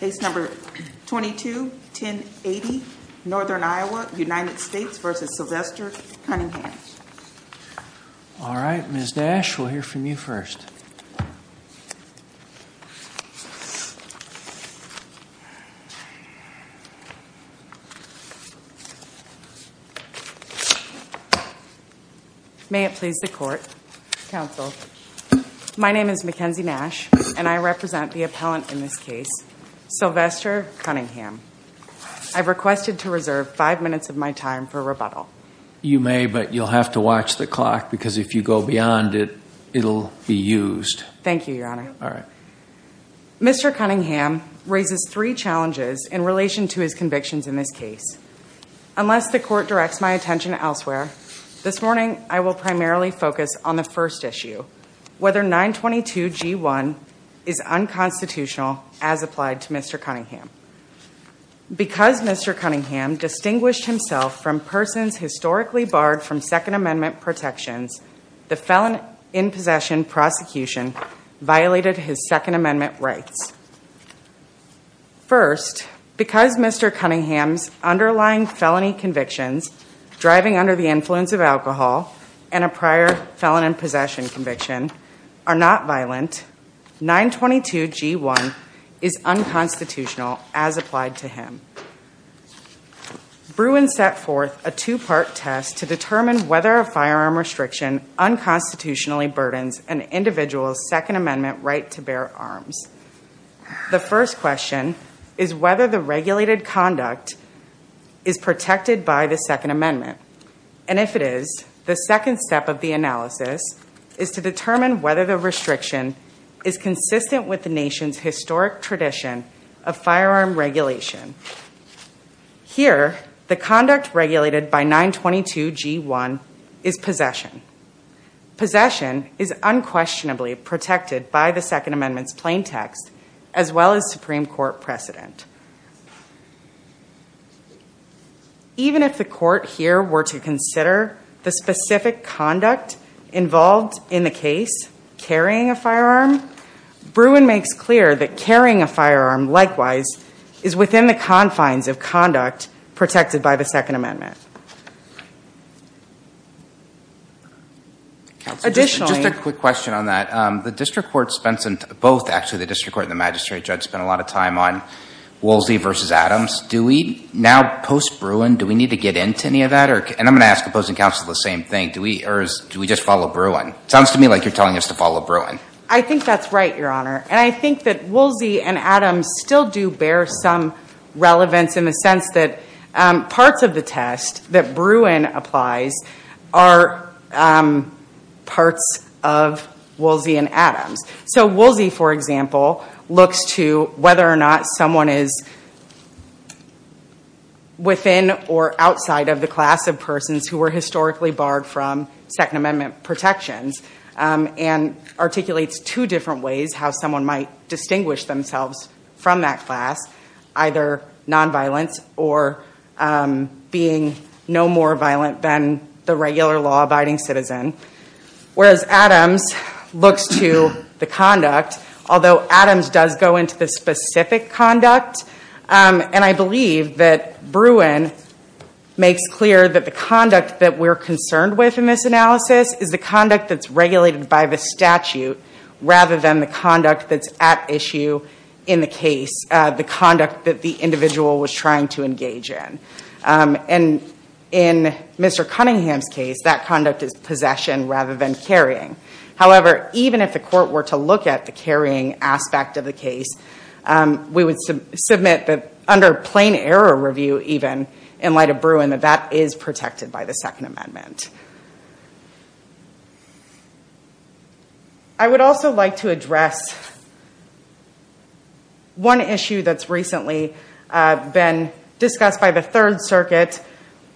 Case number 221080 Northern Iowa, United States v. Sylvester Cunningham Alright, Ms. Nash, we'll hear from you first. May it please the Court, Counsel. My name is Mackenzie Nash, and I represent the appellant in this case, Sylvester Cunningham. I've requested to reserve five minutes of my time for rebuttal. You may, but you'll have to watch the clock because if you go beyond it, it'll be used. Thank you, Your Honor. Alright. Mr. Cunningham raises three challenges in relation to his convictions in this case. Unless the Court directs my attention elsewhere, this morning I will primarily focus on the first issue, whether 922G1 is unconstitutional as applied to Mr. Cunningham. Because Mr. Cunningham distinguished himself from persons historically barred from Second Amendment rights. First, because Mr. Cunningham's underlying felony convictions, driving under the influence of alcohol and a prior felon in possession conviction, are not violent, 922G1 is unconstitutional as applied to him. Bruin set forth a two-part test to determine whether a firearm restriction unconstitutionally burdens an individual's Second Amendment right to bear arms. The first question is whether the regulated conduct is protected by the Second Amendment. And if it is, the second step of the analysis is to determine whether the restriction is consistent with the nation's historic tradition of firearm regulation. Here, the conduct regulated by 922G1 is possession. Possession is unquestionably protected by the Second Amendment's plain text, as well as Supreme Court precedent. Even if the Court here were to consider the specific conduct involved in the case, carrying a firearm, Bruin makes clear that carrying a firearm, likewise, is within the confines of conduct protected by the Second Amendment. Additionally... Just a quick question on that. The district court spends, both actually, the district court and the magistrate judge spend a lot of time on Woolsey versus Adams. Do we now, post-Bruin, do we need to get into any of that? And I'm going to ask opposing counsel the same thing. Do we just follow Bruin? Sounds to me like you're telling us to follow Bruin. I think that's right, Your Honor, and I think that Woolsey and Adams still do bear some relevance in the sense that parts of the test that Bruin applies are parts of Woolsey and Adams. So, Woolsey, for example, looks to whether or not someone is within or outside of the class of persons who were historically barred from Second Amendment protections, and articulates two different ways how someone might distinguish themselves from that class, either nonviolence or being no more violent than the regular law-abiding citizen, whereas Adams looks to the conduct, although Adams does go into the specific conduct. And I believe that Bruin makes clear that the conduct that we're concerned with in this rather than the conduct that's at issue in the case, the conduct that the individual was trying to engage in. And in Mr. Cunningham's case, that conduct is possession rather than carrying. However, even if the court were to look at the carrying aspect of the case, we would submit that under plain error review, even, in light of Bruin, that that is protected by the Second Amendment. I would also like to address one issue that's recently been discussed by the Third Circuit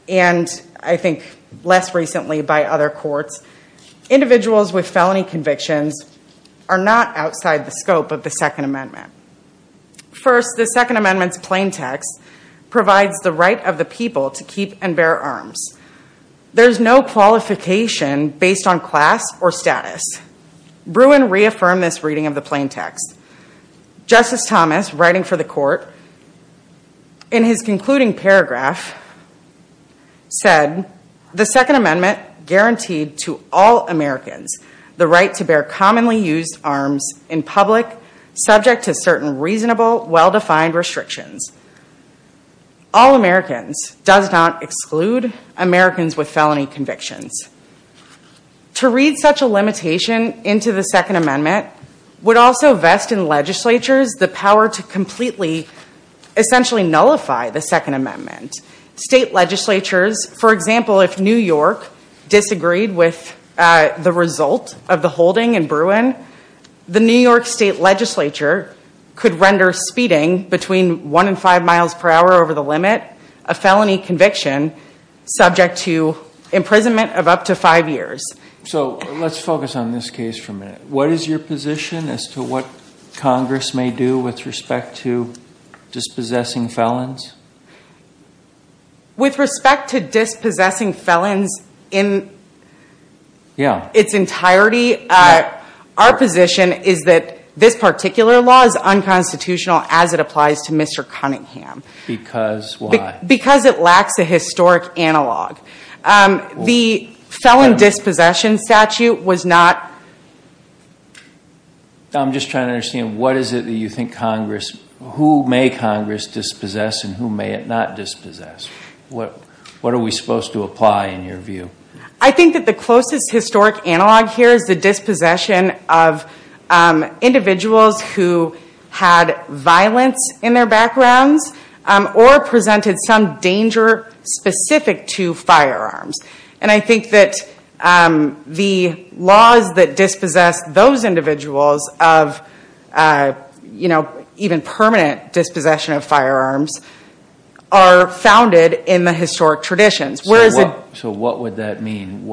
and I think less recently by other courts. Individuals with felony convictions are not outside the scope of the Second Amendment. First, the Second Amendment's plain text provides the right of the people to keep and bear arms. There's no qualification based on class or status. Bruin reaffirmed this reading of the plain text. Justice Thomas, writing for the court in his concluding paragraph, said, the Second Amendment guaranteed to all Americans the right to bear commonly used arms in public subject to certain reasonable, well-defined restrictions. All Americans does not exclude Americans with felony convictions. To read such a limitation into the Second Amendment would also vest in legislatures the power to completely, essentially nullify the Second Amendment. State legislatures, for example, if New York disagreed with the result of the holding in over the limit, a felony conviction subject to imprisonment of up to five years. So let's focus on this case for a minute. What is your position as to what Congress may do with respect to dispossessing felons? With respect to dispossessing felons in its entirety, our position is that this particular law is unconstitutional as it applies to Mr. Cunningham. Because why? Because it lacks a historic analog. The felon dispossession statute was not. I'm just trying to understand what is it that you think Congress, who may Congress dispossess and who may it not dispossess? What are we supposed to apply in your view? I think that the closest historic analog here is the dispossession of individuals who had violence in their backgrounds or presented some danger specific to firearms. And I think that the laws that dispossess those individuals of even permanent dispossession of firearms are founded in the historic traditions. So what would that mean?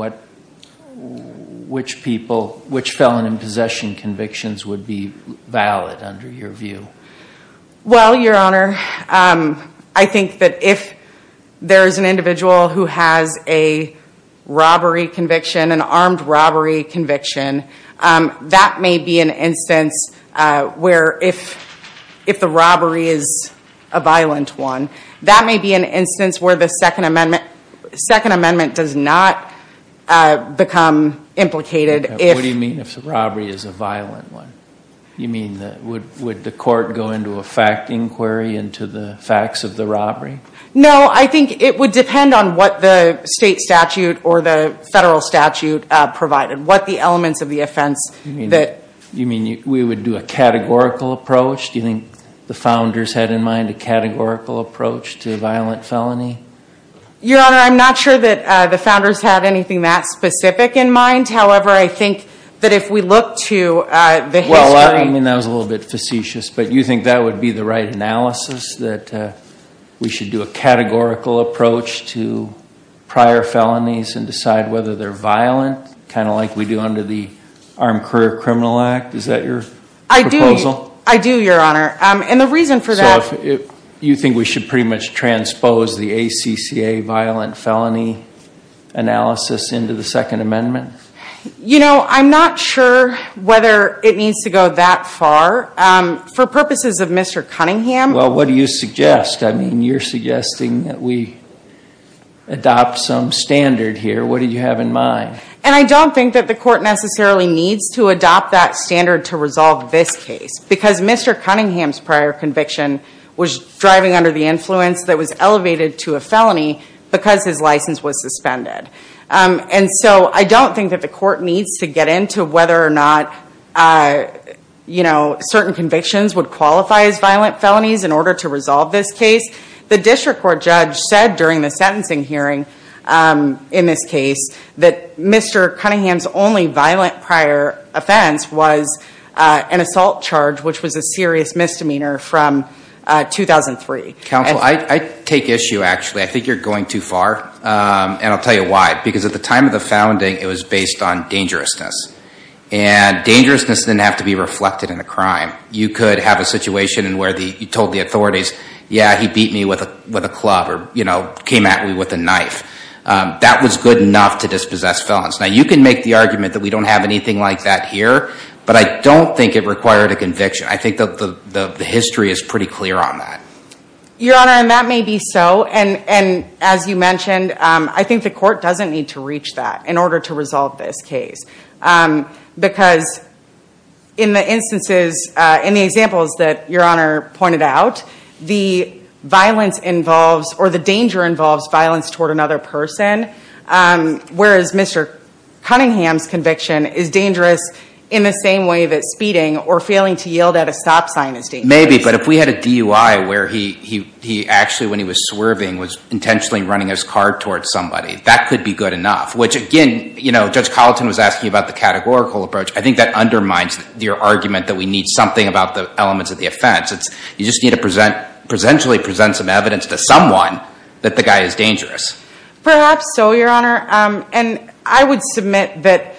Which felon in possession convictions would be valid under your view? Well, Your Honor, I think that if there is an individual who has a robbery conviction, an armed robbery conviction, that may be an instance where if the robbery is a violent one, that may be an instance where the Second Amendment does not become implicated. What do you mean if the robbery is a violent one? You mean would the court go into a fact inquiry into the facts of the robbery? No, I think it would depend on what the state statute or the federal statute provided, what the elements of the offense that. You mean we would do a categorical approach? Do you think the founders had in mind a categorical approach to a violent felony? Your Honor, I'm not sure that the founders had anything that specific in mind. However, I think that if we look to the history- Well, I mean that was a little bit facetious. But you think that would be the right analysis, that we should do a categorical approach to prior felonies and decide whether they're violent, kind of like we do under the Armed Career Criminal Act? Is that your proposal? I do, Your Honor. And the reason for that- You think we should pretty much transpose the ACCA violent felony analysis into the Second Amendment? You know, I'm not sure whether it needs to go that far. For purposes of Mr. Cunningham- Well, what do you suggest? I mean, you're suggesting that we adopt some standard here. What do you have in mind? And I don't think that the court necessarily needs to adopt that standard to resolve this case, because Mr. Cunningham's prior conviction was driving under the influence that was elevated to a felony because his license was suspended. And so I don't think that the court needs to get into whether or not certain convictions would qualify as violent felonies in order to resolve this case. The district court judge said during the sentencing hearing in this case that Mr. Cunningham's only violent prior offense was an assault charge, which was a serious misdemeanor from 2003. Counsel, I take issue, actually. I think you're going too far, and I'll tell you why. Because at the time of the founding, it was based on dangerousness. And dangerousness didn't have to be reflected in the crime. You could have a situation where you told the authorities, yeah, he beat me with a club or, you know, came at me with a knife. That was good enough to dispossess felons. Now, you can make the argument that we don't have anything like that here, but I don't think it required a conviction. I think the history is pretty clear on that. Your Honor, and that may be so. And as you mentioned, I think the court doesn't need to reach that in order to resolve this case. Because in the instances, in the examples that Your Honor pointed out, the violence involves, or the danger involves, violence toward another person. Whereas Mr. Cunningham's conviction is dangerous in the same way that speeding or failing to yield at a stop sign is dangerous. Maybe, but if we had a DUI where he actually, when he was swerving, was intentionally running his car towards somebody, that could be good enough. Which again, you know, Judge Colleton was asking about the categorical approach. I think that undermines your argument that we need something about the elements of the offense. You just need to presentially present some evidence to someone that the guy is dangerous. Perhaps so, Your Honor. And I would submit that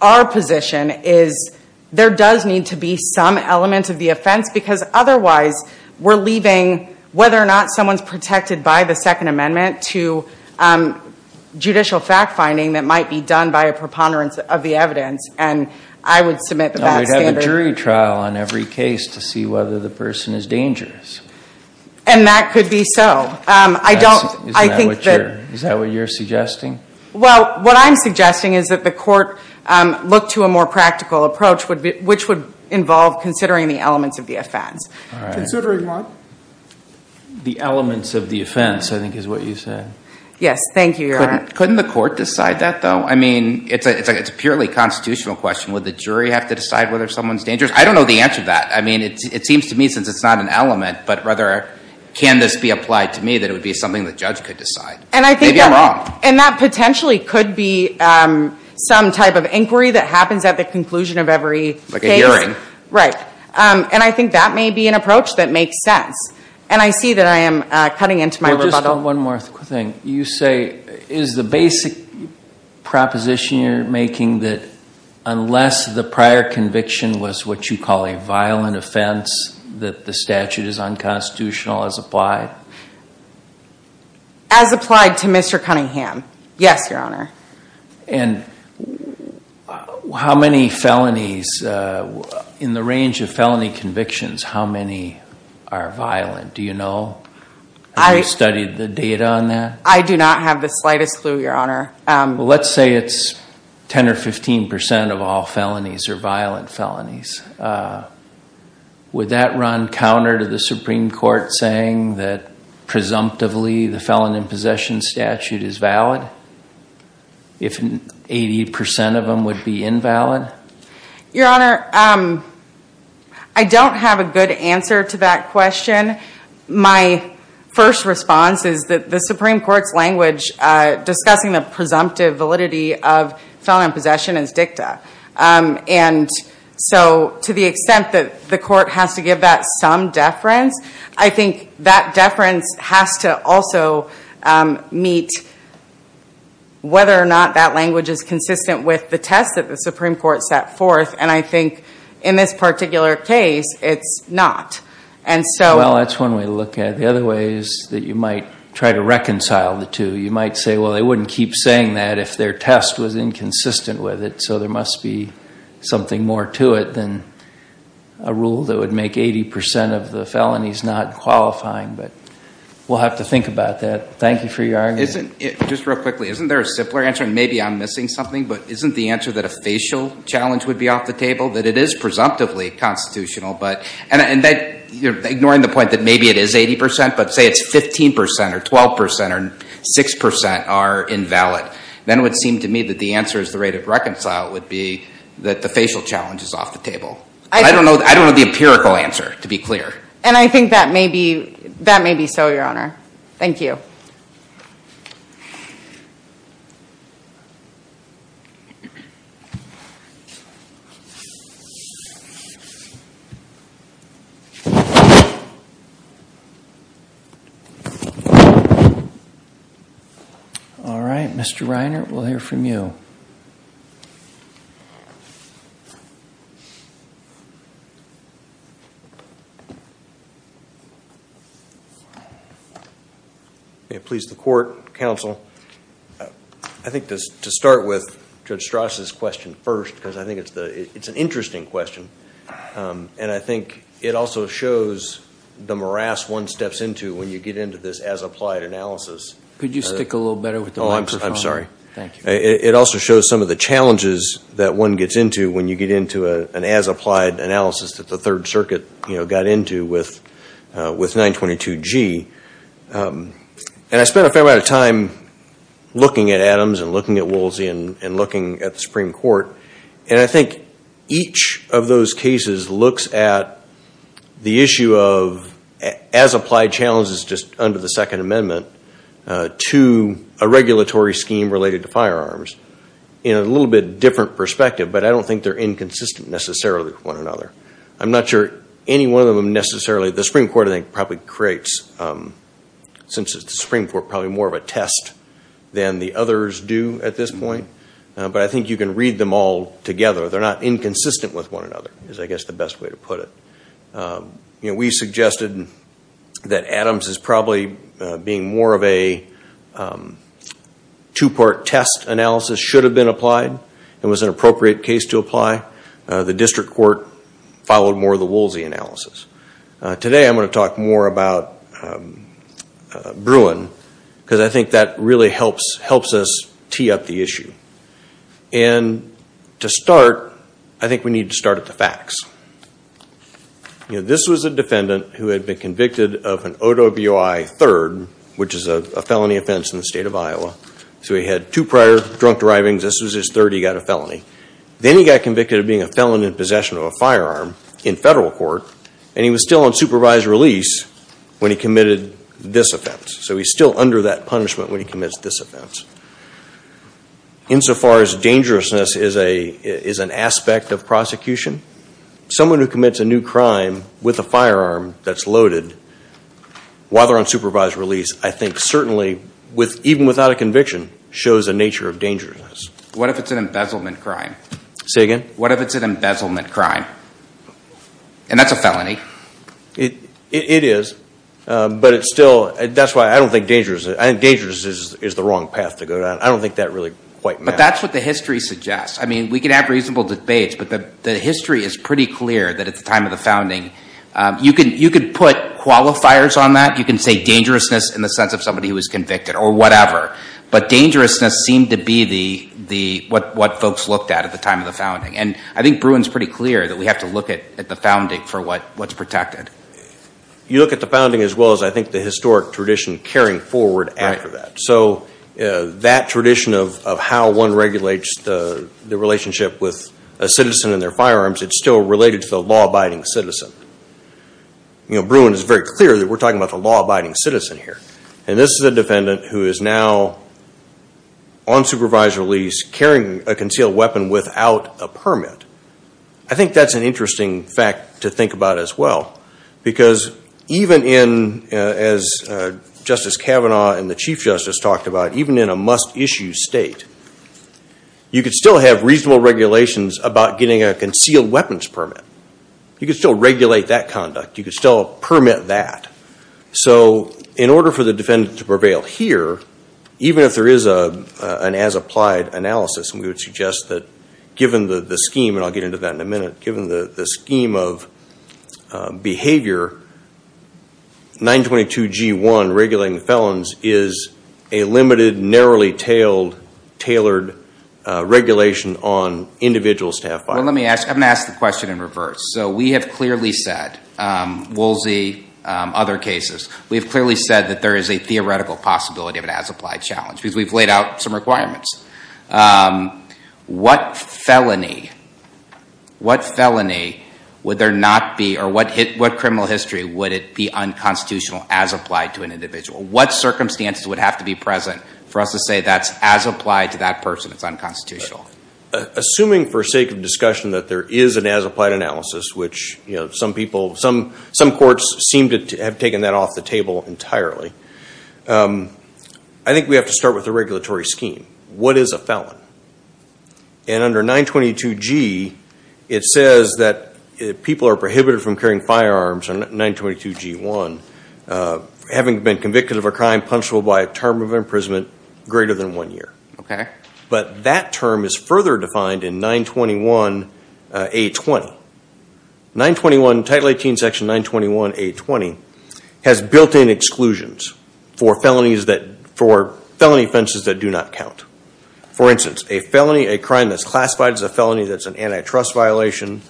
our position is, there does need to be some element of the offense. Because otherwise, we're leaving whether or not someone's protected by the Second Amendment to judicial fact finding that might be done by a preponderance of the evidence. And I would submit that that's standard. You can't have a jury trial on every case to see whether the person is dangerous. And that could be so. I don't, I think that. Is that what you're suggesting? Well, what I'm suggesting is that the court look to a more practical approach, which would involve considering the elements of the offense. Considering what? The elements of the offense, I think, is what you said. Yes, thank you, Your Honor. Couldn't the court decide that, though? I mean, it's a purely constitutional question. Would the jury have to decide whether someone's dangerous? I don't know the answer to that. I mean, it seems to me, since it's not an element, but rather, can this be applied to me, that it would be something the judge could decide? Maybe I'm wrong. And that potentially could be some type of inquiry that happens at the conclusion of every case. Like a hearing. Right. And I think that may be an approach that makes sense. And I see that I am cutting into my rebuttal. Just one more thing. You say, is the basic proposition you're making that unless the prior conviction was what you call a violent offense, that the statute is unconstitutional as applied? As applied to Mr. Cunningham. Yes, Your Honor. And how many felonies, in the range of felony convictions, how many are violent? Do you know? Have you studied the data on that? I do not have the slightest clue, Your Honor. Let's say it's 10% or 15% of all felonies are violent felonies. Would that run counter to the Supreme Court saying that, presumptively, the felon in possession statute is valid? If 80% of them would be invalid? Your Honor, I don't have a good answer to that question. My first response is that the Supreme Court's language, discussing the presumptive validity of felon in possession is dicta. And so to the extent that the court has to give that some deference, I think that deference has to also meet whether or not that language is consistent with the test that the Supreme Court set forth. And I think, in this particular case, it's not. And so that's one way to look at it. The other way is that you might try to reconcile the two. You might say, well, they wouldn't keep saying that if their test was inconsistent with it. So there must be something more to it than a rule that would make 80% of the felonies not qualifying. But we'll have to think about that. Thank you for your argument. Just real quickly, isn't there a simpler answer? And maybe I'm missing something. But isn't the answer that a facial challenge would be off the table? That it is presumptively constitutional. And ignoring the point that maybe it is 80%, but say it's 15% or 12% or 6% are invalid. Then it would seem to me that the answer is the rate of reconcile would be that the facial challenge is off the table. I don't know the empirical answer, to be clear. And I think that may be so, Your Honor. Thank you. All right. Mr. Reiner, we'll hear from you. May it please the court, counsel. I think to start with Judge Stras's question first, because I think it's an interesting question. And I think it also shows the morass one steps into when you get into this as-applied analysis. Could you stick a little better with the microphone? Oh, I'm sorry. Thank you. It also shows some of the challenges that one gets into when you get into an as-applied analysis that the Third Circuit got into with 922G. And I spent a fair amount of time looking at Adams and looking at Woolsey and looking at the Supreme Court. And I think each of those cases looks at the issue of as-applied challenges just under the Second Amendment to a regulatory scheme related to firearms in a little bit different perspective. But I don't think they're inconsistent necessarily with one another. I'm not sure any one of them necessarily. The Supreme Court, I think, probably creates, since it's the Supreme Court, probably more of a test than the others do at this point. But I think you can read them all together. They're not inconsistent with one another, is, I guess, the best way to put it. We suggested that Adams is probably being more of a two-part test analysis should have been applied and was an appropriate case to apply. The district court followed more of the Woolsey analysis. Today, I'm going to talk more about Bruin, because I think that really helps us tee up the issue. And to start, I think we need to start at the facts. This was a defendant who had been convicted of an OWI 3rd, which is a felony offense in the state of Iowa. So he had two prior drunk drivings. This was his third he got a felony. Then he got convicted of being a felon in possession of a firearm in federal court. And he was still on supervised release when he committed this offense. So he's still under that punishment when he commits this offense. Insofar as dangerousness is an aspect of prosecution, someone who commits a new crime with a firearm that's loaded while they're on supervised release, I think certainly, even without a conviction, shows a nature of dangerousness. What if it's an embezzlement crime? Say again? What if it's an embezzlement crime? And that's a felony. It is. But it's still, that's why I don't think dangerous. I think dangerous is the wrong pathway. I don't think that really quite matters. But that's what the history suggests. I mean, we can have reasonable debates. But the history is pretty clear that at the time of the founding, you could put qualifiers on that. You can say dangerousness in the sense of somebody who was convicted or whatever. But dangerousness seemed to be what folks looked at at the time of the founding. And I think Bruin's pretty clear that we have to look at the founding for what's protected. You look at the founding as well as I think the historic tradition carrying forward after that. So that tradition of how one regulates the relationship with a citizen and their firearms, it's still related to the law-abiding citizen. Bruin is very clear that we're talking about the law-abiding citizen here. And this is a defendant who is now, on supervised release, carrying a concealed weapon without a permit. I think that's an interesting fact to think about as well. Because even in, as Justice Kavanaugh and the Chief Justice talked about, even in a must-issue state, you could still have reasonable regulations about getting a concealed weapons permit. You could still regulate that conduct. You could still permit that. So in order for the defendant to prevail here, even if there is an as-applied analysis, and we would suggest that given the scheme, and I'll get into that in a minute, given the scheme of behavior, 922 G1, regulating felons, is a limited, narrowly tailored regulation on individual staff firearms. Well, let me ask the question in reverse. So we have clearly said, Woolsey, other cases, we have clearly said that there is a theoretical possibility of an as-applied challenge. Because we've laid out some requirements. What felony would there not be, or what criminal history would it be unconstitutional as applied to an individual? What circumstances would have to be present for us to say that's as applied to that person, it's unconstitutional? Assuming for sake of discussion that there is an as-applied analysis, which some people, some courts seem to have taken that off the table entirely, I think we have to start with a regulatory scheme. What is a felon? And under 922 G, it says that people are prohibited from carrying firearms on 922 G1, having been convicted of a crime punishable by a term of imprisonment greater than one year. But that term is further defined in 921 A20. 921, Title 18, Section 921 A20, has built-in exclusions for felony offenses that do not count. For instance, a felony, a crime that's classified as a felony that's an antitrust violation,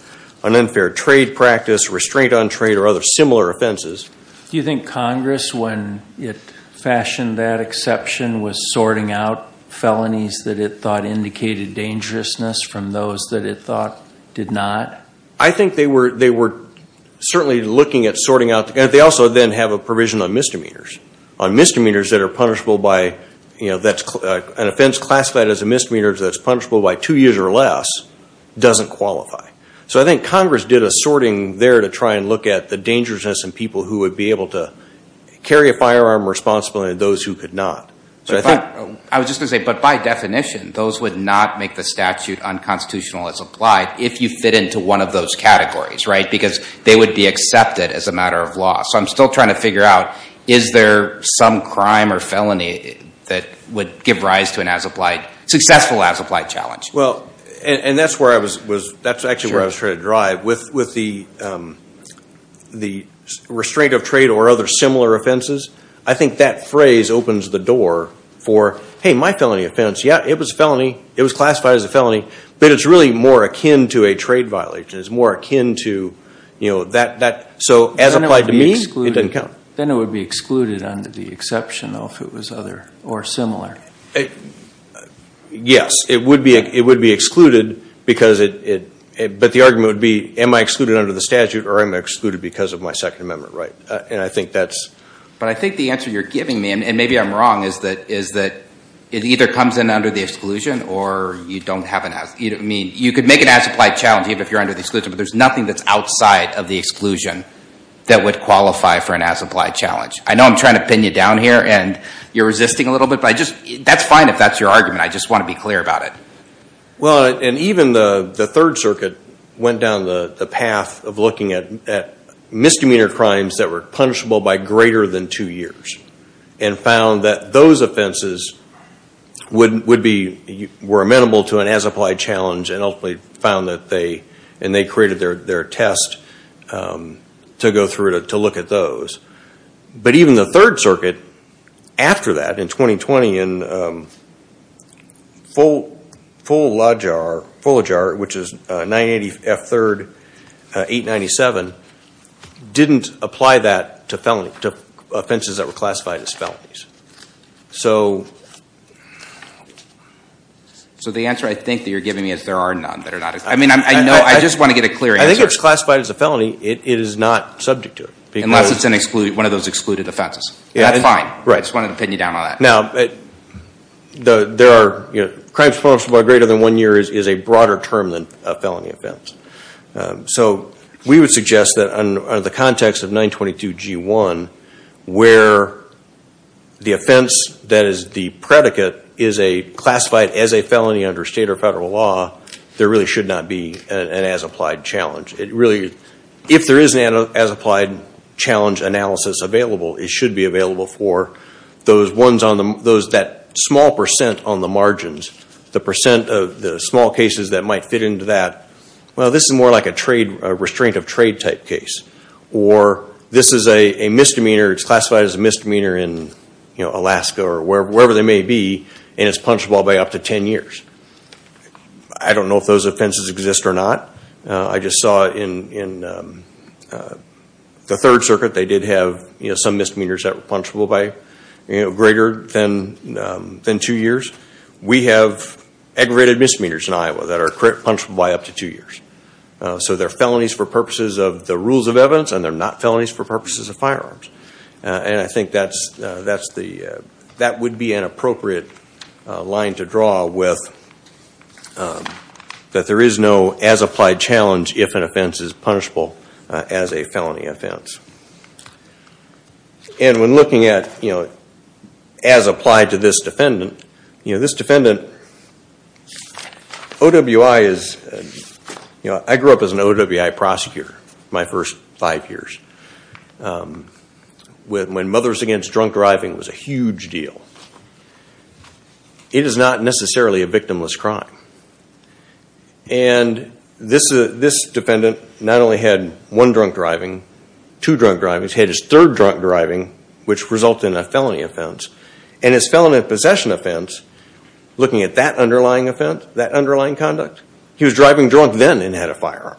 an unfair trade practice, restraint on trade, or other similar offenses. Do you think Congress, when it fashioned that exception, was sorting out felonies that it thought indicated dangerousness from those that it thought did not? I think they were certainly looking at sorting out. They also then have a provision on misdemeanors. On misdemeanors that are punishable by an offense classified as a misdemeanor that's punishable by two years or less doesn't qualify. So I think Congress did a sorting there to try and look at the dangerousness in people who would be able to carry a firearm responsibly and those who could not. I was just going to say, but by definition, those would not make the statute unconstitutional as applied if you fit into one of those categories, because they would be accepted as a matter of law. So I'm still trying to figure out, is there some crime or felony that would give rise to a successful as applied challenge? Well, and that's actually where I was trying to drive. With the restraint of trade or other similar offenses, I think that phrase opens the door for, hey, my felony offense, yeah, it was a felony. It was classified as a felony. But it's really more akin to a trade violation. It's more akin to that. So as applied to me, it doesn't count. Then it would be excluded under the exception, though, if it was other or similar. Yes, it would be excluded. But the argument would be, am I excluded under the statute or am I excluded because of my Second Amendment right? And I think that's. But I think the answer you're giving me, and maybe I'm wrong, is that it either comes in under the exclusion or you don't have an as. I mean, you could make it as applied challenge if you're under the exclusion. But there's nothing that's outside of the exclusion that would qualify for an as applied challenge. I know I'm trying to pin you down here and you're resisting a little bit. But that's fine if that's your argument. I just want to be clear about it. Well, and even the Third Circuit went down the path of looking at misdemeanor crimes that were punishable by greater than two years and found that those offenses were amenable to an as applied challenge and ultimately found that they, and they created their test to go through to look at those. But even the Third Circuit, after that, in 2020, in Fulajar, which is 980 F3 897, didn't apply that to offenses that were classified as felonies. So the answer I think that you're giving me is there are none that are not excluded. I just want to get a clear answer. I think it's classified as a felony. It is not subject to it. Unless it's one of those excluded offenses. That's fine. I just wanted to pin you down on that. Now, crimes punishable by greater than one year is a broader term than a felony offense. So we would suggest that under the context of 922 G1, where the offense that is the predicate is classified as a felony under state or federal law, there really should not be an as applied challenge. If there is an as applied challenge analysis available, it should be available for those that small percent on the margins, the small cases that might fit into that. Well, this is more like a restraint of trade type case. Or this is a misdemeanor. It's classified as a misdemeanor in Alaska or wherever they may be. And it's punishable by up to 10 years. I don't know if those offenses exist or not. I just saw it in the Third Circuit. They did have some misdemeanors that were punishable by greater than two years. We have aggravated misdemeanors in Iowa that are punishable by up to two years. So they're felonies for purposes of the rules of evidence, and they're not felonies for purposes of firearms. And I think that would be an appropriate line to draw with that there is no as applied challenge if an offense is punishable as a felony offense. And when looking at as applied to this defendant, this defendant, OWI is, I grew up as an OWI prosecutor my first five years, when Mothers Against Drunk Driving was a huge deal. It is not necessarily a victimless crime. And this defendant not only had one drunk driving, two drunk driving, he had his third drunk driving, which resulted in a felony offense. And his felony possession offense, looking at that underlying offense, that underlying conduct, he was driving drunk then and had a firearm.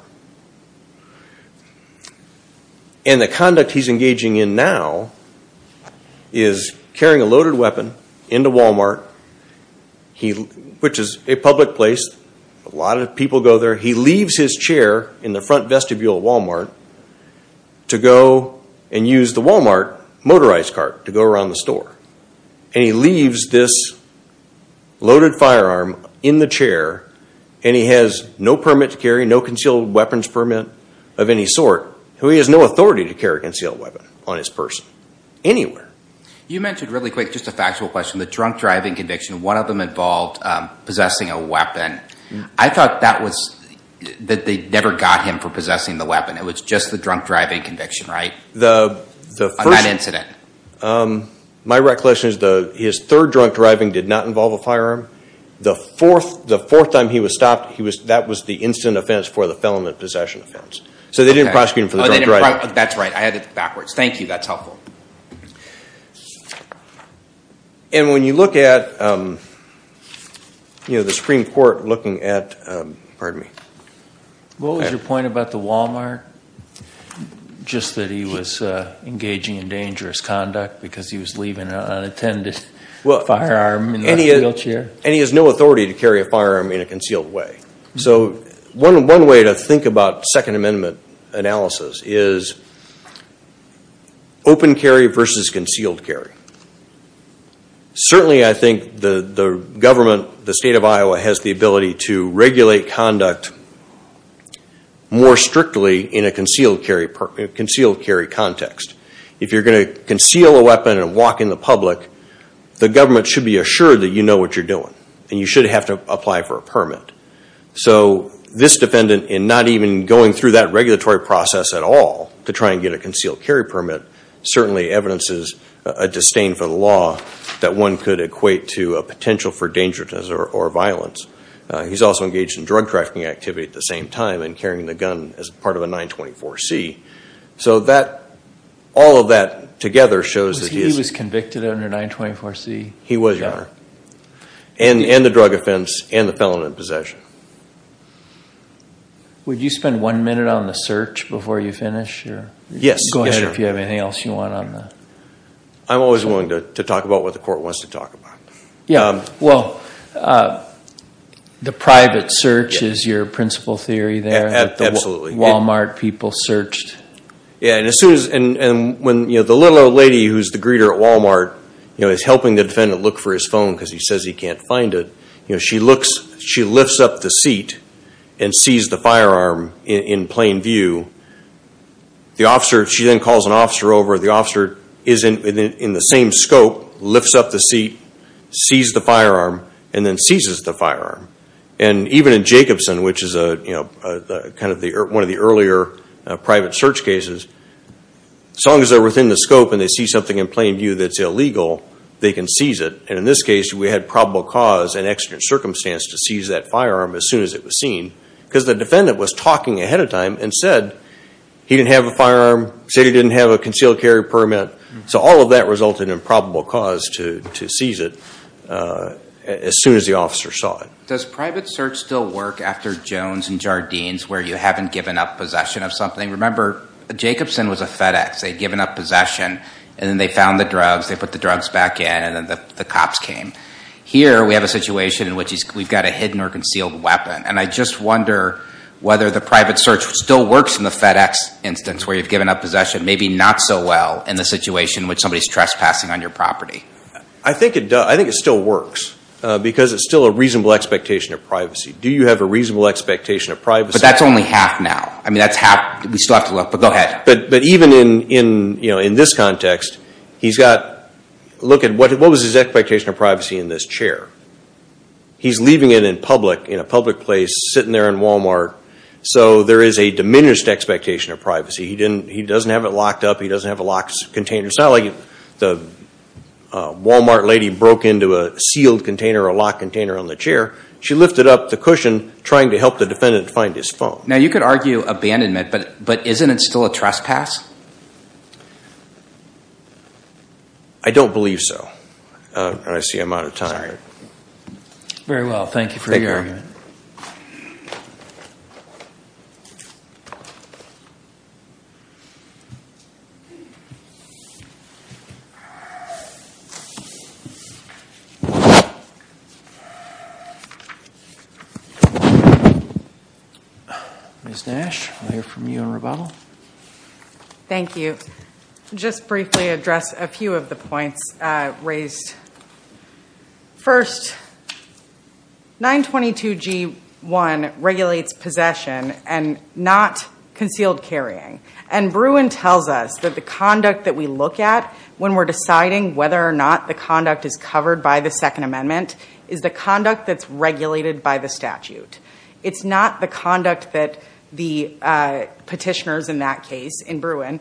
And the conduct he's engaging in now is carrying a loaded weapon into Walmart, which is a public place. A lot of people go there. He leaves his chair in the front vestibule of Walmart to go and use the Walmart motorized cart to go around the store. And he leaves this loaded firearm in the chair, and he has no permit to carry, no concealed weapons permit of any sort. So he has no authority to carry a concealed weapon on his person anywhere. You mentioned really quick, just a factual question, the drunk driving conviction. One of them involved possessing a weapon. I thought that they never got him for possessing the weapon. It was just the drunk driving conviction, right? The first. On that incident. My recollection is his third drunk driving did not involve a firearm. The fourth time he was stopped, that was the incident offense for the felon of possession offense. So they didn't prosecute him for the drunk driving. That's right. I had it backwards. Thank you. That's helpful. And when you look at the Supreme Court looking at, pardon me. What was your point about the Walmart? Just that he was engaging in dangerous conduct because he was leaving unattended firearm in a wheelchair. And he has no authority to carry a firearm in a concealed way. So one way to think about Second Amendment analysis is open carry versus concealed carry. Certainly, I think the government, the state of Iowa, has the ability to regulate conduct more strictly in a concealed carry context. If you're going to conceal a weapon and walk in the public, the government should be assured that you know what you're doing. And you should have to apply for a permit. So this defendant, in not even going through that regulatory process at all to try and get a concealed carry permit, certainly evidences a disdain for the law that one could equate to a potential for dangerousness or violence. He's also engaged in drug trafficking activity at the same time and carrying the gun as part of a 924C. So all of that together shows that he is. He was convicted under 924C. He was, Your Honor. And the drug offense and the felon in possession. Would you spend one minute on the search before you finish? Yes. Go ahead if you have anything else you want on the search. I'm always willing to talk about what the court wants to talk about. Yeah. Well, the private search is your principal theory there. Absolutely. Walmart people searched. Yeah, and when the little old lady who's the greeter at Walmart is helping the defendant look for his phone because he says he can't find it, she lifts up the seat and sees the firearm in plain view. The officer, she then calls an officer over. The officer is in the same scope, lifts up the seat, sees the firearm, and then seizes the firearm. And even in Jacobson, which is one of the earlier private search cases, as long as they're within the scope and they see something in plain view that's illegal, they can seize it. And in this case, we had probable cause and extra circumstance to seize that firearm as soon as it was seen. Because the defendant was talking ahead of time and said he didn't have a firearm, said he didn't have a concealed carry permit. So all of that resulted in probable cause to seize it as soon as the officer saw it. Does private search still work after Jones and Jardines, where you haven't given up possession of something? Remember, Jacobson was a FedEx. They'd given up possession, and then they found the drugs, they put the drugs back in, and then the cops came. Here, we have a situation in which we've got a hidden or concealed weapon. And I just wonder whether the private search still works in the FedEx instance, where you've given up possession, maybe not so well in the situation in which somebody is trespassing on your property. I think it does. I think it still works, because it's still a reasonable expectation of privacy. Do you have a reasonable expectation of privacy? But that's only half now. I mean, that's half. We still have to look, but go ahead. But even in this context, he's got, look at what was his expectation of privacy in this chair? He's leaving it in public, in a public place, sitting there in Walmart. So there is a diminished expectation of privacy. He doesn't have it locked up. He doesn't have a locked container. It's not like the Walmart lady broke into a sealed container or a locked container on the chair. She lifted up the cushion, trying to help the defendant find his phone. Now, you could argue abandonment, but isn't it still a trespass? I don't believe so. And I see I'm out of time. Very well. Thank you for your argument. Ms. Nash, I'll hear from you in rebuttal. Thank you. Just briefly address a few of the points raised. First, 922 G1 regulates possession and not concealed carrying. And Bruin tells us that the conduct that we look at when we're deciding whether or not the conduct is covered by the Second Amendment is the conduct that's regulated by the statute. It's not the conduct that the petitioners in that case, in Bruin,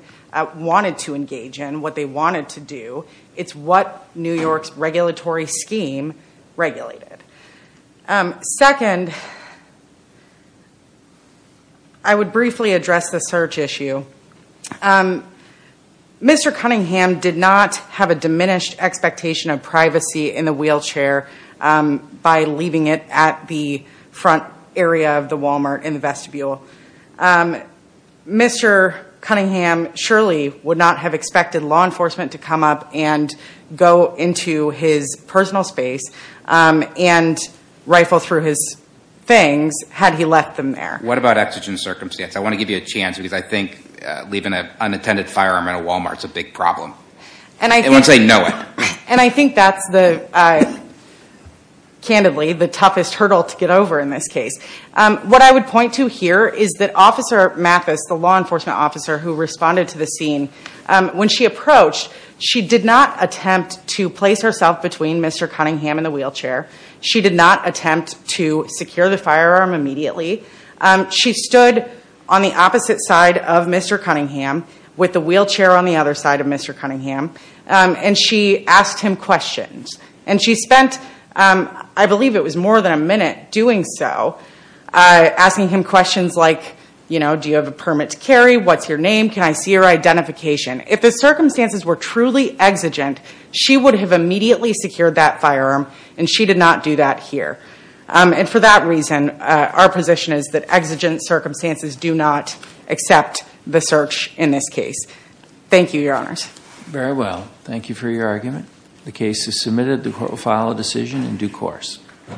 wanted to engage in, what they wanted to do. It's what New York's regulatory scheme regulated. Second, I would briefly address the search issue. Thank you. Mr. Cunningham did not have a diminished expectation of privacy in the wheelchair by leaving it at the front area of the Walmart in the vestibule. Mr. Cunningham surely would not have expected law enforcement to come up and go into his personal space and rifle through his things had he left them there. What about exigent circumstance? I want to give you a chance, because I think leaving an unattended firearm at a Walmart is a big problem, once they know it. And I think that's, candidly, the toughest hurdle to get over in this case. What I would point to here is that Officer Mathis, the law enforcement officer who responded to the scene, when she approached, she did not attempt to place herself between Mr. Cunningham and the wheelchair. She did not attempt to secure the firearm immediately. She stood on the opposite side of Mr. Cunningham with the wheelchair on the other side of Mr. Cunningham, and she asked him questions. And she spent, I believe it was more than a minute doing so, asking him questions like, do you have a permit to carry? What's your name? Can I see your identification? If the circumstances were truly exigent, she would have immediately secured that firearm, and she did not do that here. And for that reason, our position is that exigent circumstances do not accept the search in this case. Thank you, Your Honors. Very well. Thank you for your argument. The case is submitted. The court will file a decision in due course.